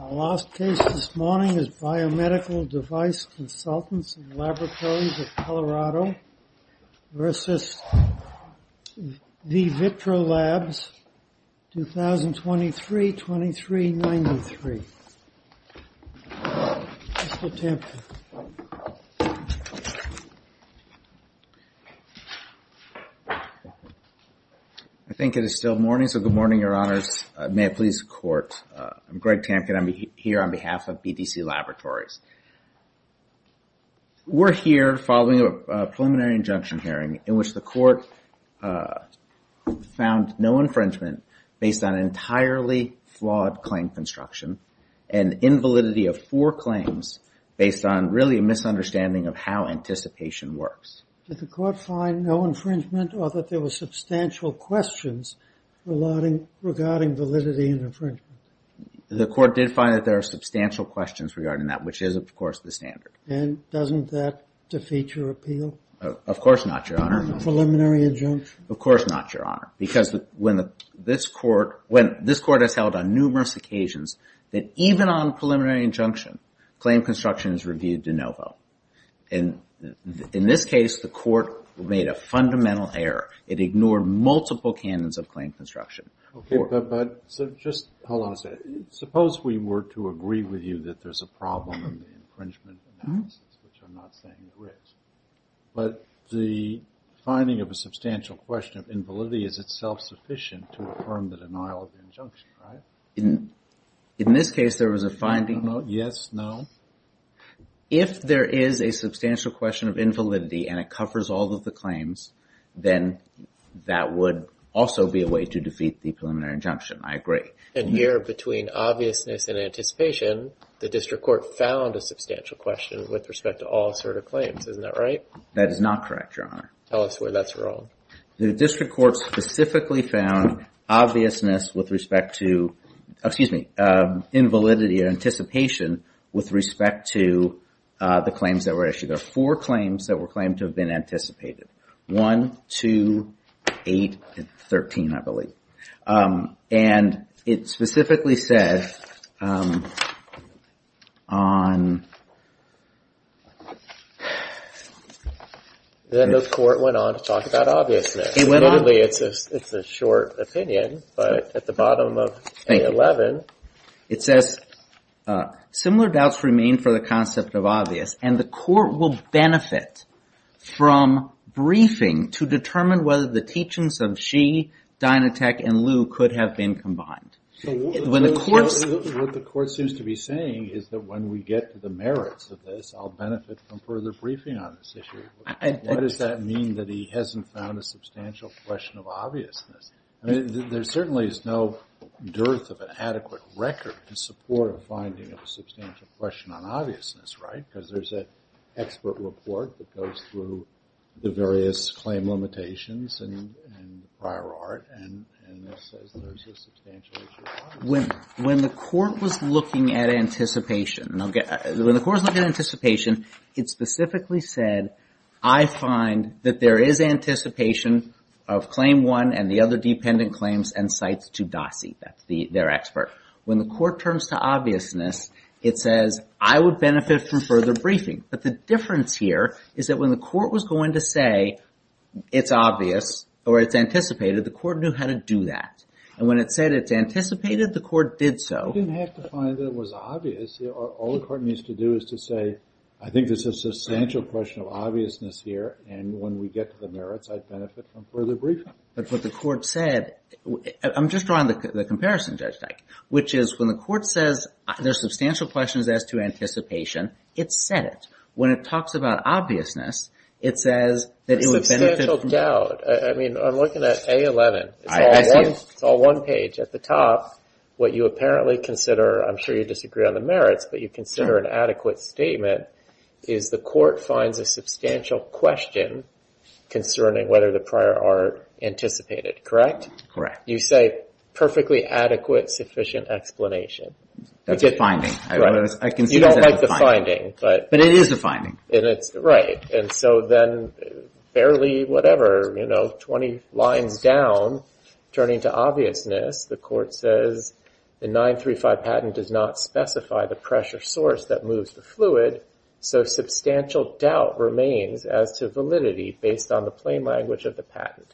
Our last case this morning is Biomedical Device Consultants & Laboratories of Colorado v. Vivitro Labs, 2023-2393. I think it is still morning, so good morning, your honors. May it please the court. I'm Greg Tampkin. I'm here on behalf of BDC Laboratories. We're here following a preliminary injunction hearing in which the court found no infringement based on entirely flawed claim construction and invalidity of four claims based on really a misunderstanding of how anticipation works. Did the court find no infringement or that there were substantial questions regarding validity and infringement? The court did find that there are substantial questions regarding that, which is, of course, the standard. And doesn't that defeat your appeal? Of course not, your honor. Preliminary injunction? Of course not, your honor, because when this court has held on numerous occasions that even on preliminary injunction, claim construction is reviewed de novo. And in this case, the court made a fundamental error. It ignored multiple canons of claim construction. Okay, but just hold on a second. Suppose we were to agree with you that there's a problem in the infringement analysis, which I'm not saying there is. But the finding of a substantial question of invalidity is itself sufficient to affirm the denial of injunction, right? In this case, there was a finding. Yes, no? If there is a substantial question of invalidity and it covers all of the claims, then that would also be a way to defeat the preliminary injunction. I agree. And here, between obviousness and anticipation, the district court found a substantial question with respect to all assertive claims. Isn't that right? That is not correct, your honor. Tell us where that's wrong. The district court specifically found obviousness with respect to, excuse me, invalidity and anticipation with respect to the claims that were issued. There were four claims that were claimed to have been anticipated. 1, 2, 8, and 13, I believe. And it specifically said on... Then the court went on to talk about obviousness. It went on? Admittedly, it's a short opinion, but at the bottom of A11, it says, Similar doubts remain for the concept of obvious. And the court will benefit from briefing to determine whether the teachings of Xi, Dynatech, and Liu could have been combined. What the court seems to be saying is that when we get to the merits of this, I'll benefit from further briefing on this issue. What does that mean that he hasn't found a substantial question of obviousness? I mean, there certainly is no dearth of an adequate record to support a finding of a substantial question on obviousness, right? Because there's an expert report that goes through the various claim limitations and prior art. And this says there's a substantial issue of obviousness. When the court was looking at anticipation, it specifically said, I find that there is anticipation of claim one and the other dependent claims and sites to DASI. That's their expert. When the court turns to obviousness, it says, I would benefit from further briefing. But the difference here is that when the court was going to say it's obvious or it's anticipated, the court knew how to do that. And when it said it's anticipated, the court did so. It didn't have to find that it was obvious. All the court needs to do is to say, I think this is a substantial question of obviousness here. And when we get to the merits, I'd benefit from further briefing. But what the court said, I'm just drawing the comparison, Judge Dyke, which is when the court says there's substantial questions as to anticipation, it said it. When it talks about obviousness, it says that it would benefit from- A substantial doubt. I mean, I'm looking at A11. It's all one page. At the top, what you apparently consider, I'm sure you disagree on the merits, but you consider an adequate statement, is the court finds a substantial question concerning whether the prior art anticipated, correct? Correct. You say perfectly adequate, sufficient explanation. That's a finding. You don't like the finding. But it is a finding. Right. And so then barely whatever, 20 lines down, turning to obviousness, the court says, the 935 patent does not specify the pressure source that moves the fluid, so substantial doubt remains as to validity based on the plain language of the patent.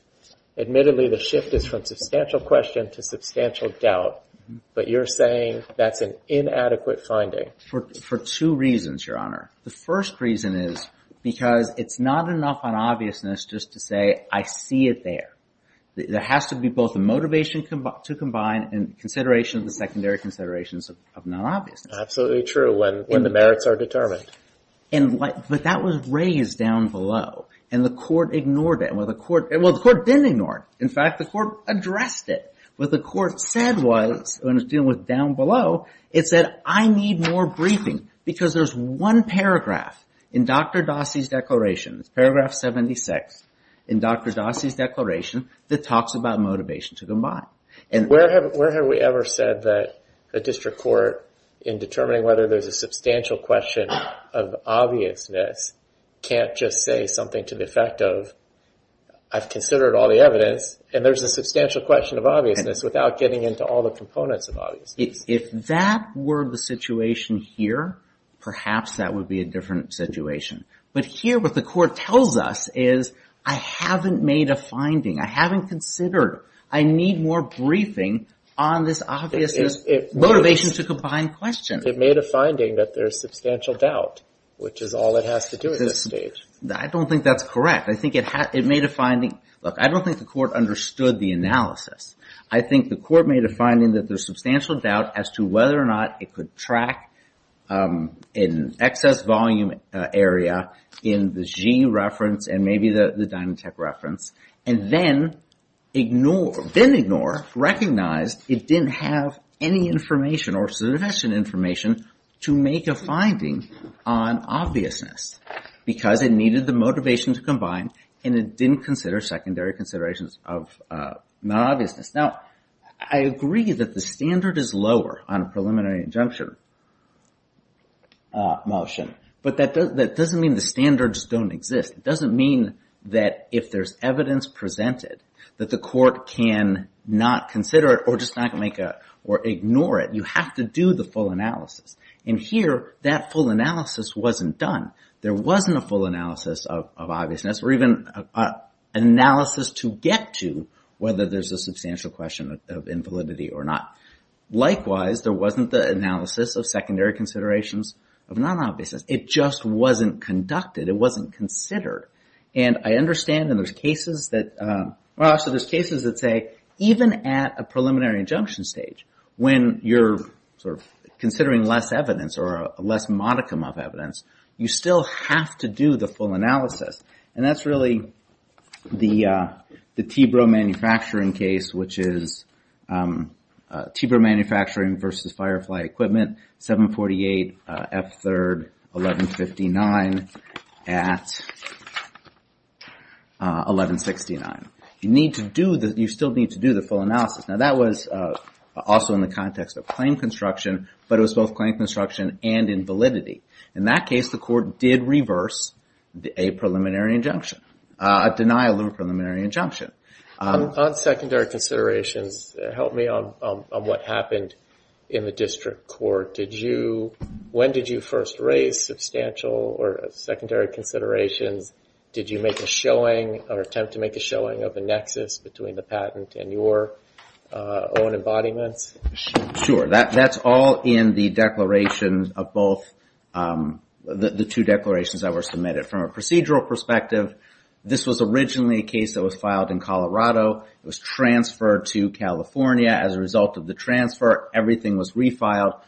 Admittedly, the shift is from substantial question to substantial doubt. But you're saying that's an inadequate finding. For two reasons, Your Honor. The first reason is because it's not enough on obviousness just to say, I see it there. There has to be both a motivation to combine and consideration of the secondary considerations of non-obviousness. Absolutely true, when the merits are determined. But that was raised down below, and the court ignored it. Well, the court didn't ignore it. In fact, the court addressed it. What the court said was, when it was dealing with down below, it said, I need more briefing, because there's one paragraph in Dr. Dossi's declaration, paragraph 76, in Dr. Dossi's declaration, that talks about motivation to combine. Where have we ever said that a district court, in determining whether there's a substantial question of obviousness, can't just say something to the effect of, I've considered all the evidence, and there's a substantial question of obviousness without getting into all the components of obviousness. If that were the situation here, perhaps that would be a different situation. But here, what the court tells us is, I haven't made a finding. I haven't considered. I need more briefing on this obvious motivation to combine question. It made a finding that there's substantial doubt, which is all it has to do at this stage. I don't think that's correct. I think it made a finding. Look, I don't think the court understood the analysis. I think the court made a finding that there's substantial doubt as to whether or not it could track an excess volume area in the G reference, and maybe the Dynatech reference, and then ignore, recognize it didn't have any information or sufficient information to make a finding on obviousness. Because it needed the motivation to combine, and it didn't consider secondary considerations of non-obviousness. Now, I agree that the standard is lower on a preliminary injunction motion, but that doesn't mean the standards don't exist. It doesn't mean that if there's evidence presented that the court can not consider it or just not make a, or ignore it. You have to do the full analysis. And here, that full analysis wasn't done. There wasn't a full analysis of obviousness, or even an analysis to get to whether there's a substantial question of invalidity or not. Likewise, there wasn't the analysis of secondary considerations of non-obviousness. It just wasn't conducted. It wasn't considered. And I understand that there's cases that say even at a preliminary injunction stage, when you're sort of considering less evidence or a less modicum of evidence, you still have to do the full analysis. And that's really the TBRO manufacturing case, which is TBRO Manufacturing versus Firefly Equipment, 748 F3rd 1159 at 1169. You still need to do the full analysis. Now, that was also in the context of claim construction, but it was both claim construction and invalidity. In that case, the court did reverse a preliminary injunction, a denial of a preliminary injunction. On secondary considerations, help me on what happened in the district court. When did you first raise substantial or secondary considerations? Did you make a showing or attempt to make a showing of a nexus between the patent and your own embodiments? Sure, that's all in the declarations of both the two declarations that were submitted. From a procedural perspective, this was originally a case that was filed in Colorado. It was transferred to California as a result of the transfer. Everything was refiled.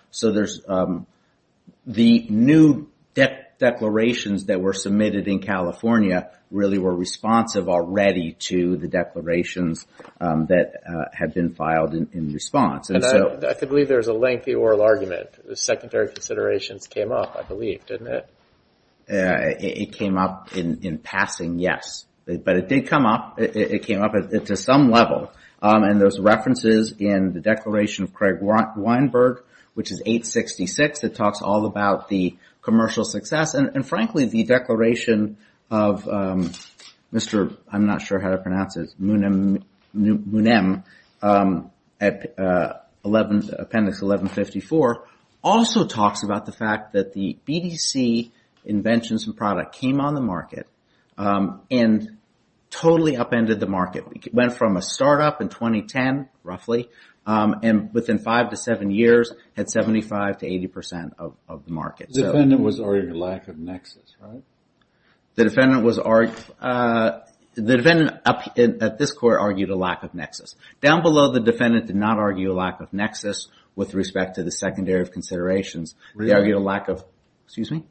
The new declarations that were submitted in California really were responsive already to the declarations that had been filed in response. I believe there's a lengthy oral argument. The secondary considerations came up, I believe, didn't it? It came up in passing, yes. But it did come up. It came up to some level. There's references in the declaration of Craig Weinberg, which is 866. It talks all about the commercial success. And, frankly, the declaration of Mr. Munem, Appendix 1154, also talks about the fact that the BDC inventions and product came on the market and totally upended the market. It went from a startup in 2010, roughly, and within five to seven years had 75% to 80% of the market. The defendant was arguing a lack of nexus, right? The defendant at this court argued a lack of nexus. Down below, the defendant did not argue a lack of nexus with respect to the secondary considerations. They argued a lack of, excuse me?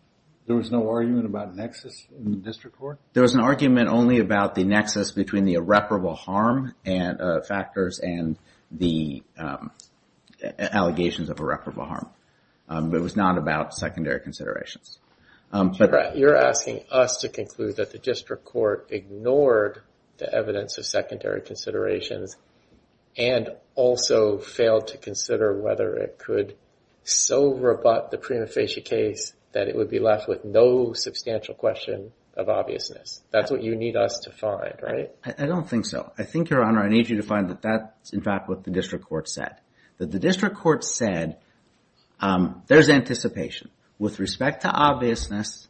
There was no argument about nexus in the district court? There was an argument only about the nexus between the irreparable harm factors and the allegations of irreparable harm. It was not about secondary considerations. You're asking us to conclude that the district court ignored the evidence of secondary considerations and also failed to consider whether it could so rebut the prima facie case that it would be left with no substantial question of obviousness. That's what you need us to find, right? I don't think so. I think, Your Honor, I need you to find that that's, in fact, what the district court said. That the district court said there's anticipation. With respect to obviousness,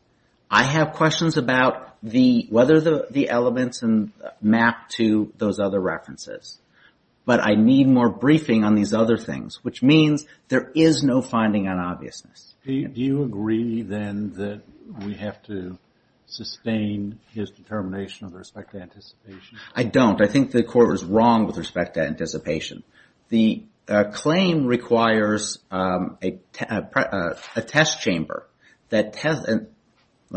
I have questions about whether the elements map to those other references. But I need more briefing on these other things, which means there is no finding on obviousness. Do you agree, then, that we have to sustain his determination with respect to anticipation? I don't. I think the court was wrong with respect to anticipation. The claim requires a test chamber. Let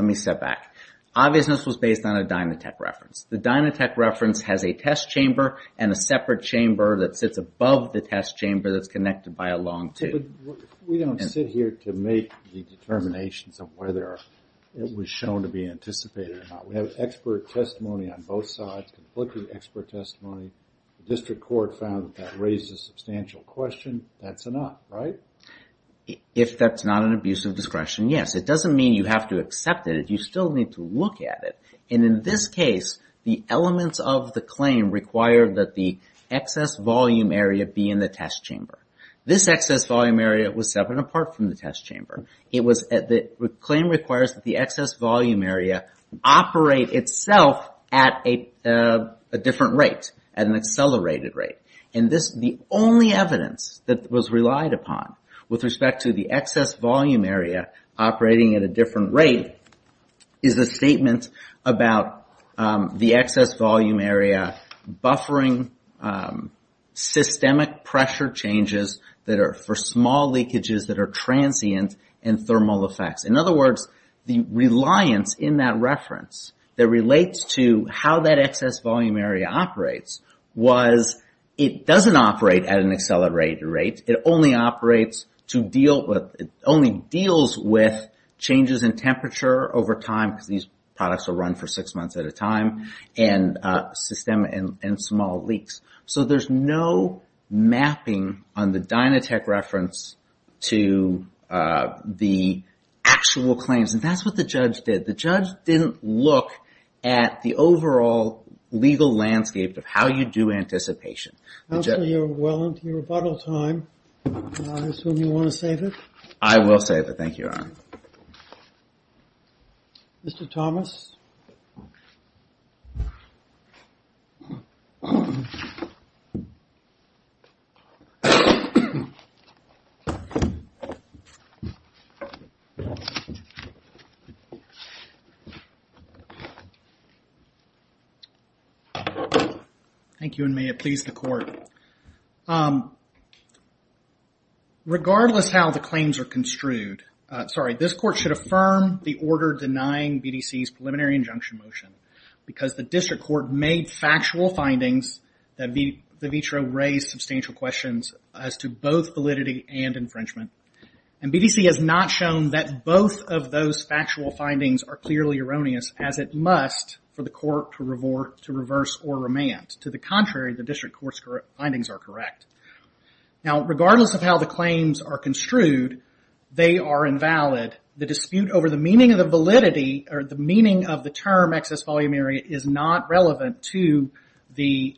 me step back. Obviousness was based on a Dynatech reference. The Dynatech reference has a test chamber and a separate chamber that sits above the test chamber that's connected by a long tube. We don't sit here to make the determinations of whether it was shown to be anticipated or not. We have expert testimony on both sides, completely expert testimony. The district court found that that raises a substantial question. That's a no, right? If that's not an abuse of discretion, yes. It doesn't mean you have to accept it. You still need to look at it. And in this case, the elements of the claim require that the excess volume area be in the test chamber. This excess volume area was separate and apart from the test chamber. The claim requires that the excess volume area operate itself at a different rate. At an accelerated rate. And the only evidence that was relied upon with respect to the excess volume area operating at a different rate is a statement about the excess volume area buffering systemic pressure changes that are for small leakages that are transient and thermal effects. In other words, the reliance in that reference that relates to how that excess volume area operates was it doesn't operate at an accelerated rate. It only deals with changes in temperature over time because these products are run for six months at a time and system and small leaks. So there's no mapping on the Dynatech reference to the actual claims. And that's what the judge did. The judge didn't look at the overall legal landscape of how you do anticipation. Well, you're well into your rebuttal time. I assume you want to save it? I will save it. Thank you, Your Honor. Mr. Thomas? Thank you, and may it please the court. Regardless how the claims are construed, this court should affirm the order denying BDC's preliminary injunction motion because the district court made factual findings that the vitro raised substantial questions as to both validity and infringement. And BDC has not shown that both of those factual findings are clearly erroneous as it must for the court to reverse or remand. To the contrary, the district court's findings are correct. Now, regardless of how the claims are construed, they are invalid. The dispute over the meaning of the validity or the meaning of the term excess volume area is not relevant to the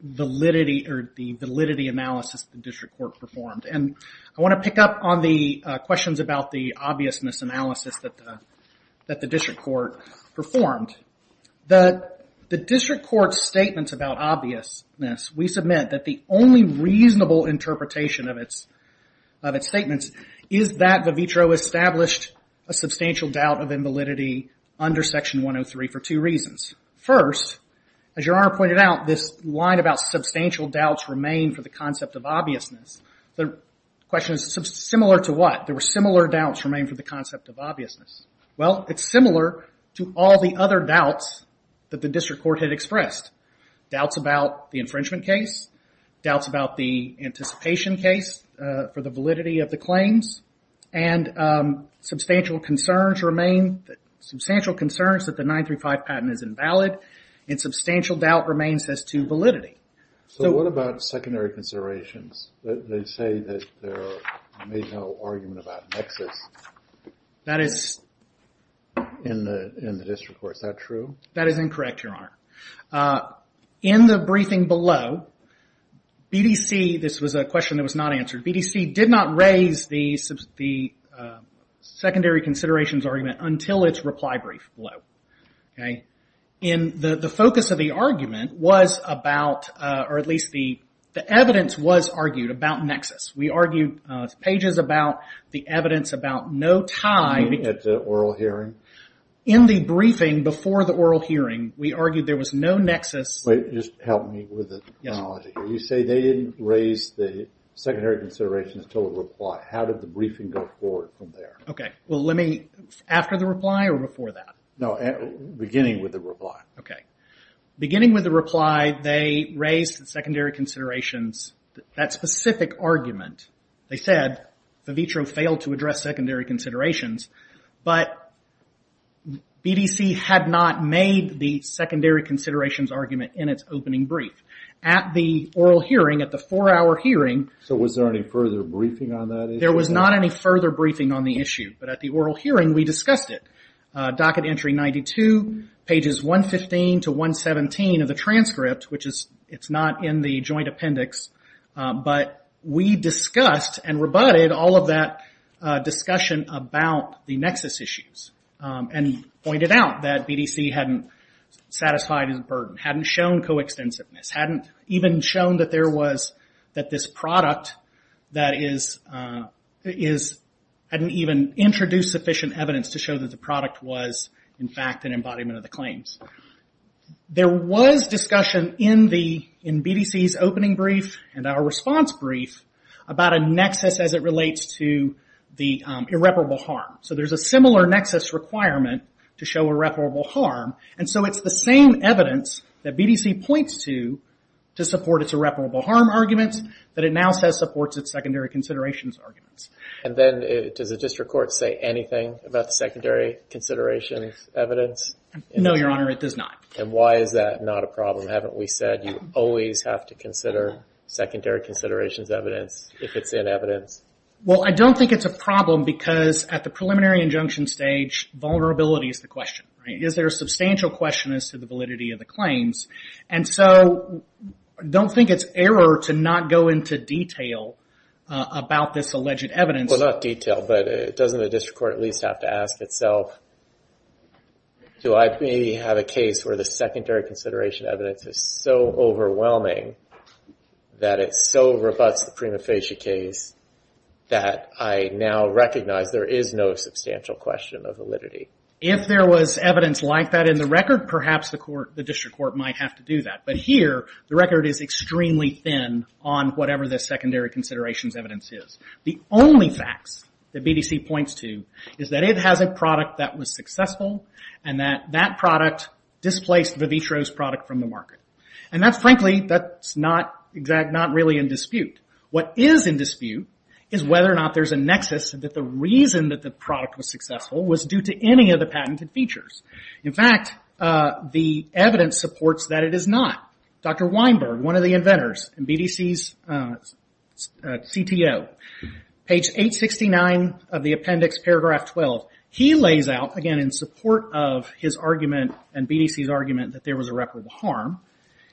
validity analysis the district court performed. And I want to pick up on the questions about the obviousness analysis that the district court performed. The district court's statements about obviousness, we submit that the only reasonable interpretation of its statements is that the vitro established a substantial doubt of invalidity under Section 103 for two reasons. First, as Your Honor pointed out, this line about substantial doubts remain for the concept of obviousness. The question is similar to what? There were similar doubts remain for the concept of obviousness. Well, it's similar to all the other doubts that the district court had expressed. Doubts about the infringement case. Doubts about the anticipation case for the validity of the claims. And substantial concerns remain. Substantial concerns that the 935 patent is invalid. And substantial doubt remains as to validity. So what about secondary considerations? They say that there may be no argument about nexus in the district court. Is that true? That is incorrect, Your Honor. In the briefing below, BDC, this was a question that was not answered. BDC did not raise the secondary considerations argument until its reply brief below. And the focus of the argument was about, or at least the evidence was argued about nexus. We argued pages about the evidence about no tie. You mean at the oral hearing? In the briefing before the oral hearing, we argued there was no nexus. Wait, just help me with the analogy. You say they didn't raise the secondary considerations until the reply. How did the briefing go forward from there? Okay. Well, let me, after the reply or before that? No, beginning with the reply. Okay. Beginning with the reply, they raised the secondary considerations, that specific argument. They said, the vitro failed to address secondary considerations, but BDC had not made the secondary considerations argument in its opening brief. At the oral hearing, at the four-hour hearing. So was there any further briefing on that issue? There was not any further briefing on the issue, but at the oral hearing, we discussed it. Docket entry 92, pages 115 to 117 of the transcript, which it's not in the joint appendix, but we discussed and rebutted all of that discussion about the nexus issues and pointed out that BDC hadn't satisfied its burden, hadn't shown co-extensiveness, hadn't even shown that there was, that this product that is, hadn't even introduced sufficient evidence to show that the product was in fact an embodiment of the claims. There was discussion in BDC's opening brief and our response brief about a nexus as it relates to the irreparable harm. So there's a similar nexus requirement to show irreparable harm, and so it's the same evidence that BDC points to to support its irreparable harm arguments that it now says supports its secondary considerations arguments. And then, does the district court say anything about the secondary considerations evidence? No, Your Honor, it does not. And why is that not a problem? Haven't we said you always have to consider secondary considerations evidence if it's in evidence? Well, I don't think it's a problem because at the preliminary injunction stage, vulnerability is the question. Is there a substantial question as to the validity of the claims? And so, I don't think it's error to not go into detail about this alleged evidence. Well, not detail, but doesn't the district court at least have to ask itself, do I maybe have a case where the secondary consideration evidence is so overwhelming that it so rebuts the prima facie case that I now recognize there is no substantial question of validity? If there was evidence like that in the record, perhaps the district court might have to do that. But here, the record is extremely thin on whatever the secondary considerations evidence is. The only facts that BDC points to is that it has a product that was successful and that that product displaced Vivitro's product from the market. And that's frankly, that's not really in dispute. What is in dispute is whether or not there's a nexus that the reason that the product was successful was due to any of the patented features. In fact, the evidence supports that it is not. Dr. Weinberg, one of the inventors and BDC's CTO, page 869 of the appendix, paragraph 12, he lays out, again in support of his argument and BDC's argument that there was irreparable harm,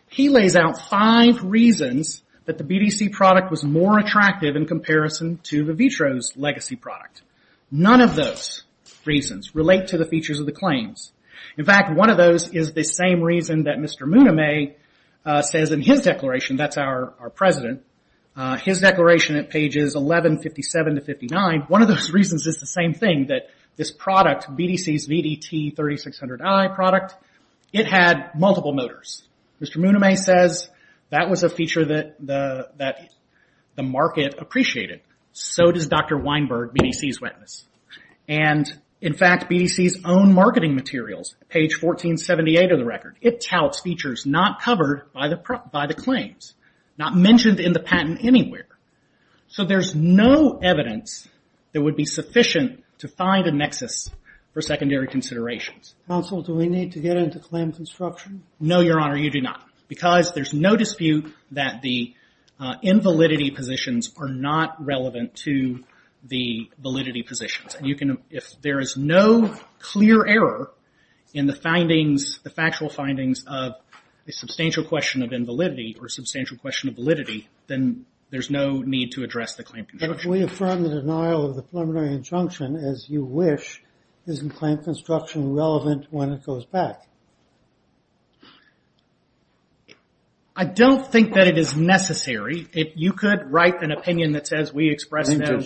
he lays out five reasons that the BDC product was more attractive in comparison to Vivitro's legacy product. None of those reasons relate to the features of the claims. In fact, one of those is the same reason that Mr. Muname says in his declaration, that's our president, his declaration at pages 1157 to 59, one of those reasons is the same thing, that this product, BDC's VDT3600i product, it had multiple motors. Mr. Muname says that was a feature that the market appreciated. So does Dr. Weinberg, BDC's witness. And in fact, BDC's own marketing materials, page 1478 of the record, it touts features not covered by the claims, not mentioned in the patent anywhere. So there's no evidence that would be sufficient to find a nexus for secondary considerations. Counsel, do we need to get into claim construction? No, Your Honor, you do not. Because there's no dispute that the invalidity positions are not relevant to the validity positions. You can, if there is no clear error in the findings, the factual findings, of a substantial question of invalidity or a substantial question of validity, then there's no need to address the claim construction. But if we affirm the denial of the preliminary injunction, as you wish, isn't claim construction relevant when it goes back? I don't think that it is necessary. You could write an opinion that says we express no...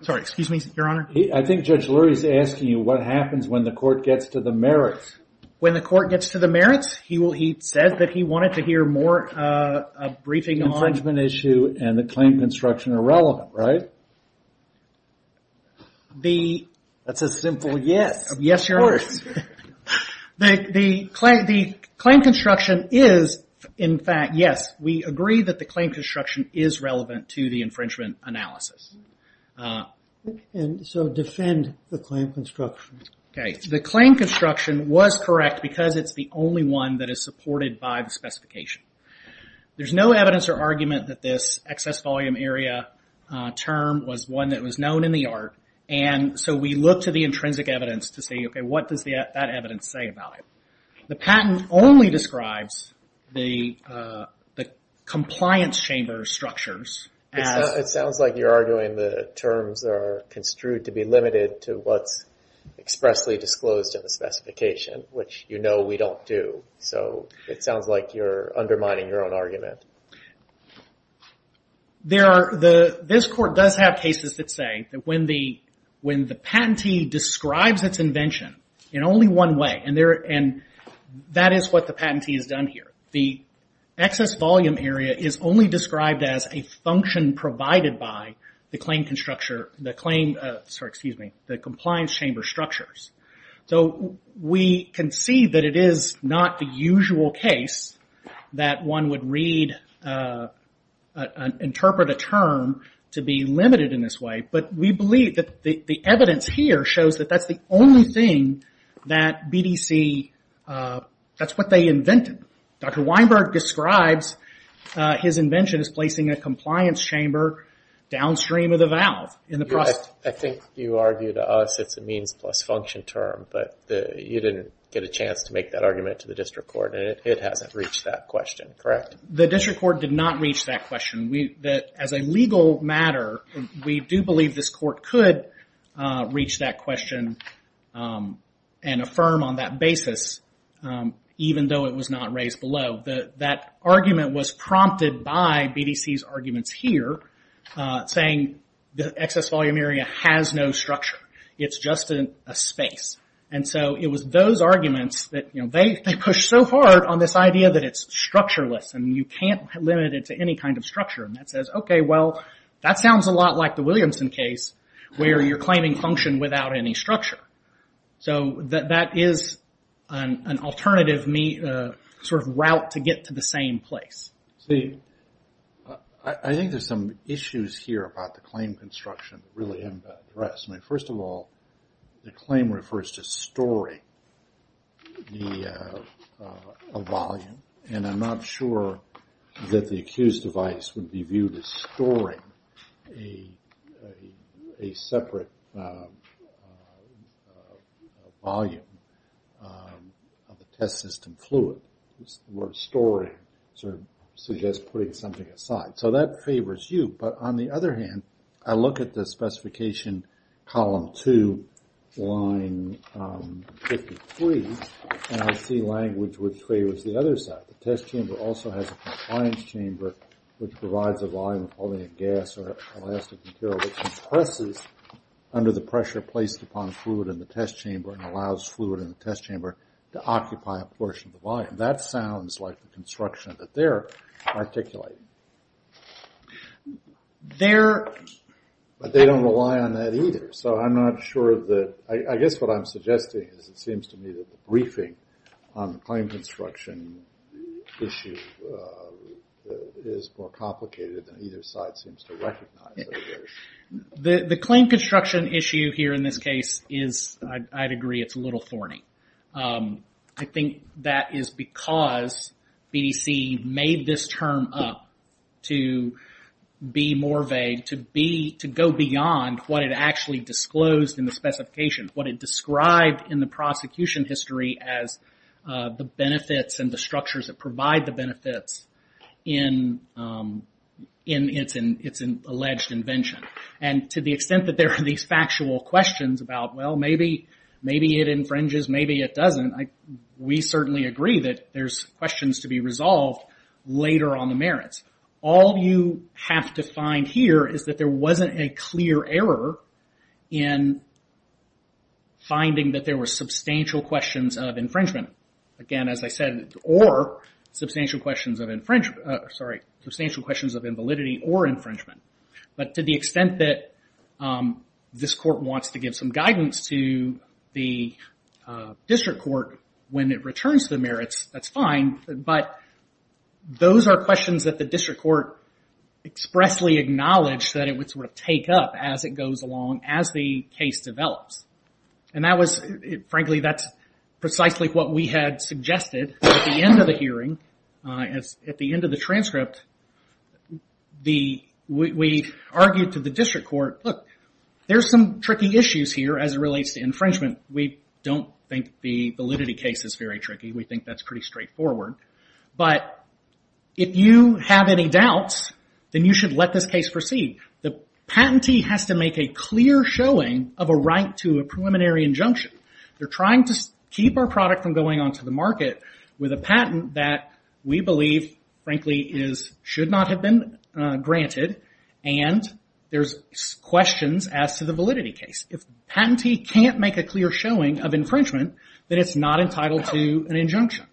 Sorry, excuse me, Your Honor? I think Judge Lurie is asking you what happens when the court gets to the merits. When the court gets to the merits? He said that he wanted to hear more briefing on... The infringement issue and the claim construction are relevant, right? That's a simple yes. Yes, Your Honor. The claim construction is, in fact, yes. We agree that the claim construction is relevant to the infringement analysis. And so defend the claim construction. The claim construction was correct because it's the only one that is supported by the specification. There's no evidence or argument that this excess volume area term was one that was known in the art. And so we look to the intrinsic evidence to say, OK, what does that evidence say about it? The patent only describes the compliance chamber structures as... It sounds like you're arguing the terms are construed to be limited to what's expressly disclosed in the specification, which you know we don't do. So it sounds like you're undermining your own argument. This court does have cases that say that when the patentee describes its invention in only one way, and that is what the patentee has done here. The excess volume area is only described as a function provided by the compliance chamber structures. So we can see that it is not the usual case that one would interpret a term to be limited in this way, but we believe that the evidence here shows that that's the only thing that BDC... That's what they invented. Dr. Weinberg describes his invention as placing a compliance chamber downstream of the valve. I think you argued to us it's a means plus function term, but you didn't get a chance to make that argument to the district court, and it hasn't reached that question, correct? The district court did not reach that question. As a legal matter, we do believe this court could reach that question and affirm on that basis, even though it was not raised below. That argument was prompted by BDC's arguments here, saying the excess volume area has no structure. It's just a space. It was those arguments that... They push so hard on this idea that it's structureless, and you can't limit it to any kind of structure. That says, okay, well, that sounds a lot like the Williamson case, where you're claiming function without any structure. That is an alternative route to get to the same place. I think there's some issues here about the claim construction that really impact the rest. First of all, the claim refers to storing the volume, and I'm not sure that the accused device would be viewed as storing a separate volume of the test system fluid. The word storing suggests putting something aside. So that favors you, but on the other hand, I look at the specification column two, line 53, and I see language which favors the other side. The test chamber also has a compliance chamber, which provides a volume of only a gas or elastic material, which compresses under the pressure placed upon fluid in the test chamber and allows fluid in the test chamber to occupy a portion of the volume. That sounds like the construction that they're articulating. But they don't rely on that either, so I'm not sure that... I guess what I'm suggesting is it seems to me that the briefing on the claim construction issue is more complicated than either side seems to recognize. The claim construction issue here in this case is, I'd agree, it's a little thorny. I think that is because BDC made this term up to be more vague, to go beyond what it actually disclosed in the specification, as the benefits and the structures that provide the benefits in its alleged invention. To the extent that there are these factual questions about, well, maybe it infringes, maybe it doesn't, we certainly agree that there's questions to be resolved later on the merits. All you have to find here is that there wasn't a clear error in finding that there were substantial questions of infringement, again, as I said, or substantial questions of infringement, sorry, substantial questions of invalidity or infringement. But to the extent that this court wants to give some guidance to the district court when it returns to the merits, that's fine, but those are questions that the district court expressly acknowledged that it would take up as it goes along, as the case develops. Frankly, that's precisely what we had suggested at the end of the hearing. At the end of the transcript, we argued to the district court, look, there's some tricky issues here as it relates to infringement. We don't think the validity case is very tricky. We think that's pretty straightforward. But if you have any doubts, then you should let this case proceed. The patentee has to make a clear showing of a right to a preliminary injunction. They're trying to keep our product from going on to the market with a patent that we believe, frankly, should not have been granted and there's questions as to the validity case. If the patentee can't make a clear showing of infringement, then it's not entitled to an injunction.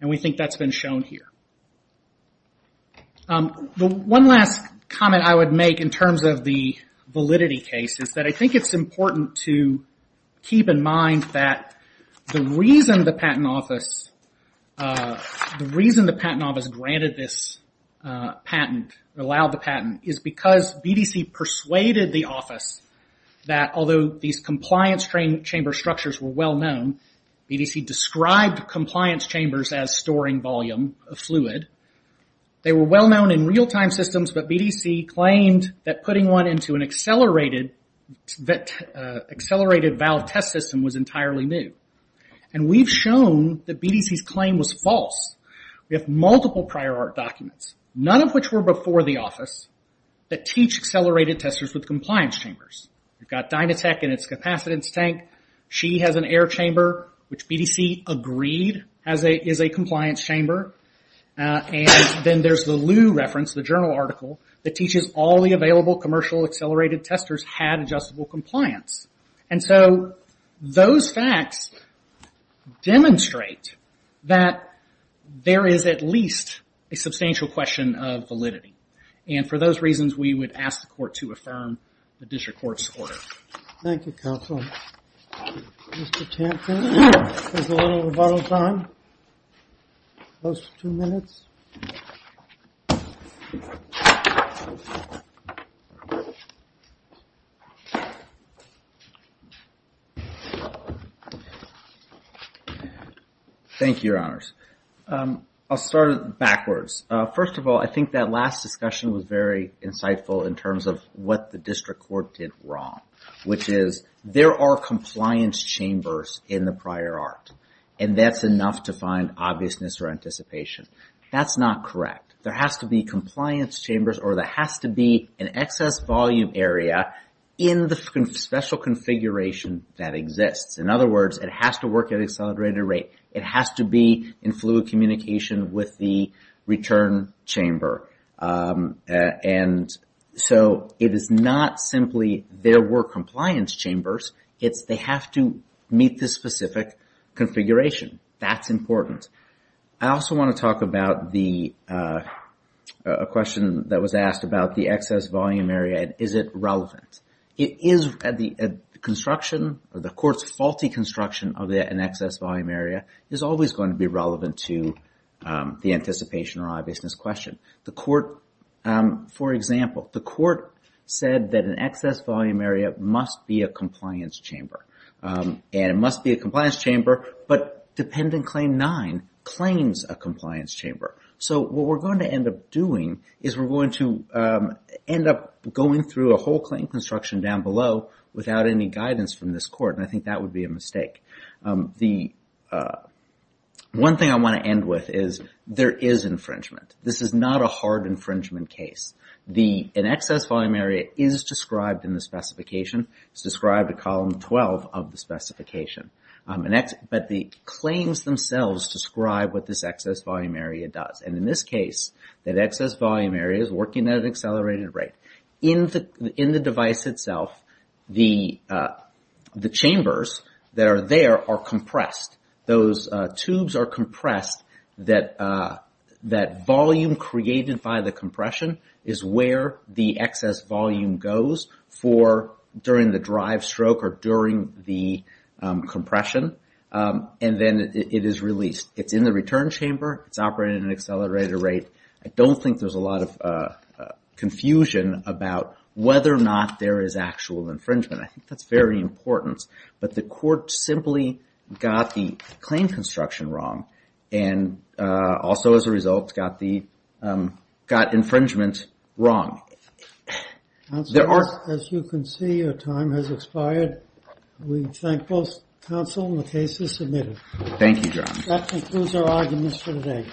And we think that's been shown here. One last comment I would make in terms of the validity case is that I think it's important to keep in mind that the reason the patent office the reason the patent office granted this patent, allowed the patent, is because BDC persuaded the office that although these compliance chamber structures were well-known, BDC described compliance chambers as storing volume of fluid. They were well-known in real-time systems, but BDC claimed that putting one into an accelerated valve test system was entirely new. And we've shown that BDC's claim was false. We have multiple prior art documents, none of which were before the office, that teach accelerated testers with compliance chambers. We've got Dynatech and its capacitance tank. She has an air chamber, which BDC agreed is a compliance chamber. And then there's the Lew reference, the journal article, that teaches all the available commercial accelerated testers had adjustable compliance. And so those facts demonstrate that there is at least a substantial question of validity. And for those reasons, we would ask the court to affirm the district court's order. Thank you, counsel. Mr. Tampkin, there's a little rebuttal time. Close to two minutes. Thank you. Thank you, your honors. I'll start backwards. First of all, I think that last discussion was very insightful in terms of what the district court did wrong. Which is, there are compliance chambers in the prior art. And that's enough to find obviousness or anticipation. That's not correct. There has to be compliance chambers, or there has to be an excess volume area in the special configuration that exists. In other words, it has to work at an accelerated rate. It has to be in fluid communication with the return chamber. And so, it is not simply there were compliance chambers. It's they have to meet the specific configuration. That's important. I also want to talk about a question that was asked about the excess volume area. Is it relevant? It is. The construction, the court's faulty construction of an excess volume area is always going to be relevant to the anticipation or obviousness question. The court, for example, the court said that an excess volume area must be a compliance chamber. And it must be a compliance chamber, but Dependent Claim 9 claims a compliance chamber. So what we're going to end up doing is we're going to end up going through a whole claim construction down below without any guidance from this court. And I think that would be a mistake. One thing I want to end with is there is infringement. This is not a hard infringement case. An excess volume area is described in the specification. It's described in column 12 of the specification. But the claims themselves describe what this excess volume area does. And in this case, that excess volume area is working at an accelerated rate. In the device itself, the chambers that are there are compressed. Those tubes are compressed. That volume created by the compression is where the excess volume goes for during the drive stroke or during the compression. And then it is released. It's in the return chamber. It's operating at an accelerated rate. I don't think there's a lot of confusion about whether or not there is actual infringement. I think that's very important. But the court simply got the claim construction wrong. And also as a result got infringement wrong. As you can see, your time has expired. We thank both counsel and the cases submitted. Thank you, John. That concludes our arguments for today.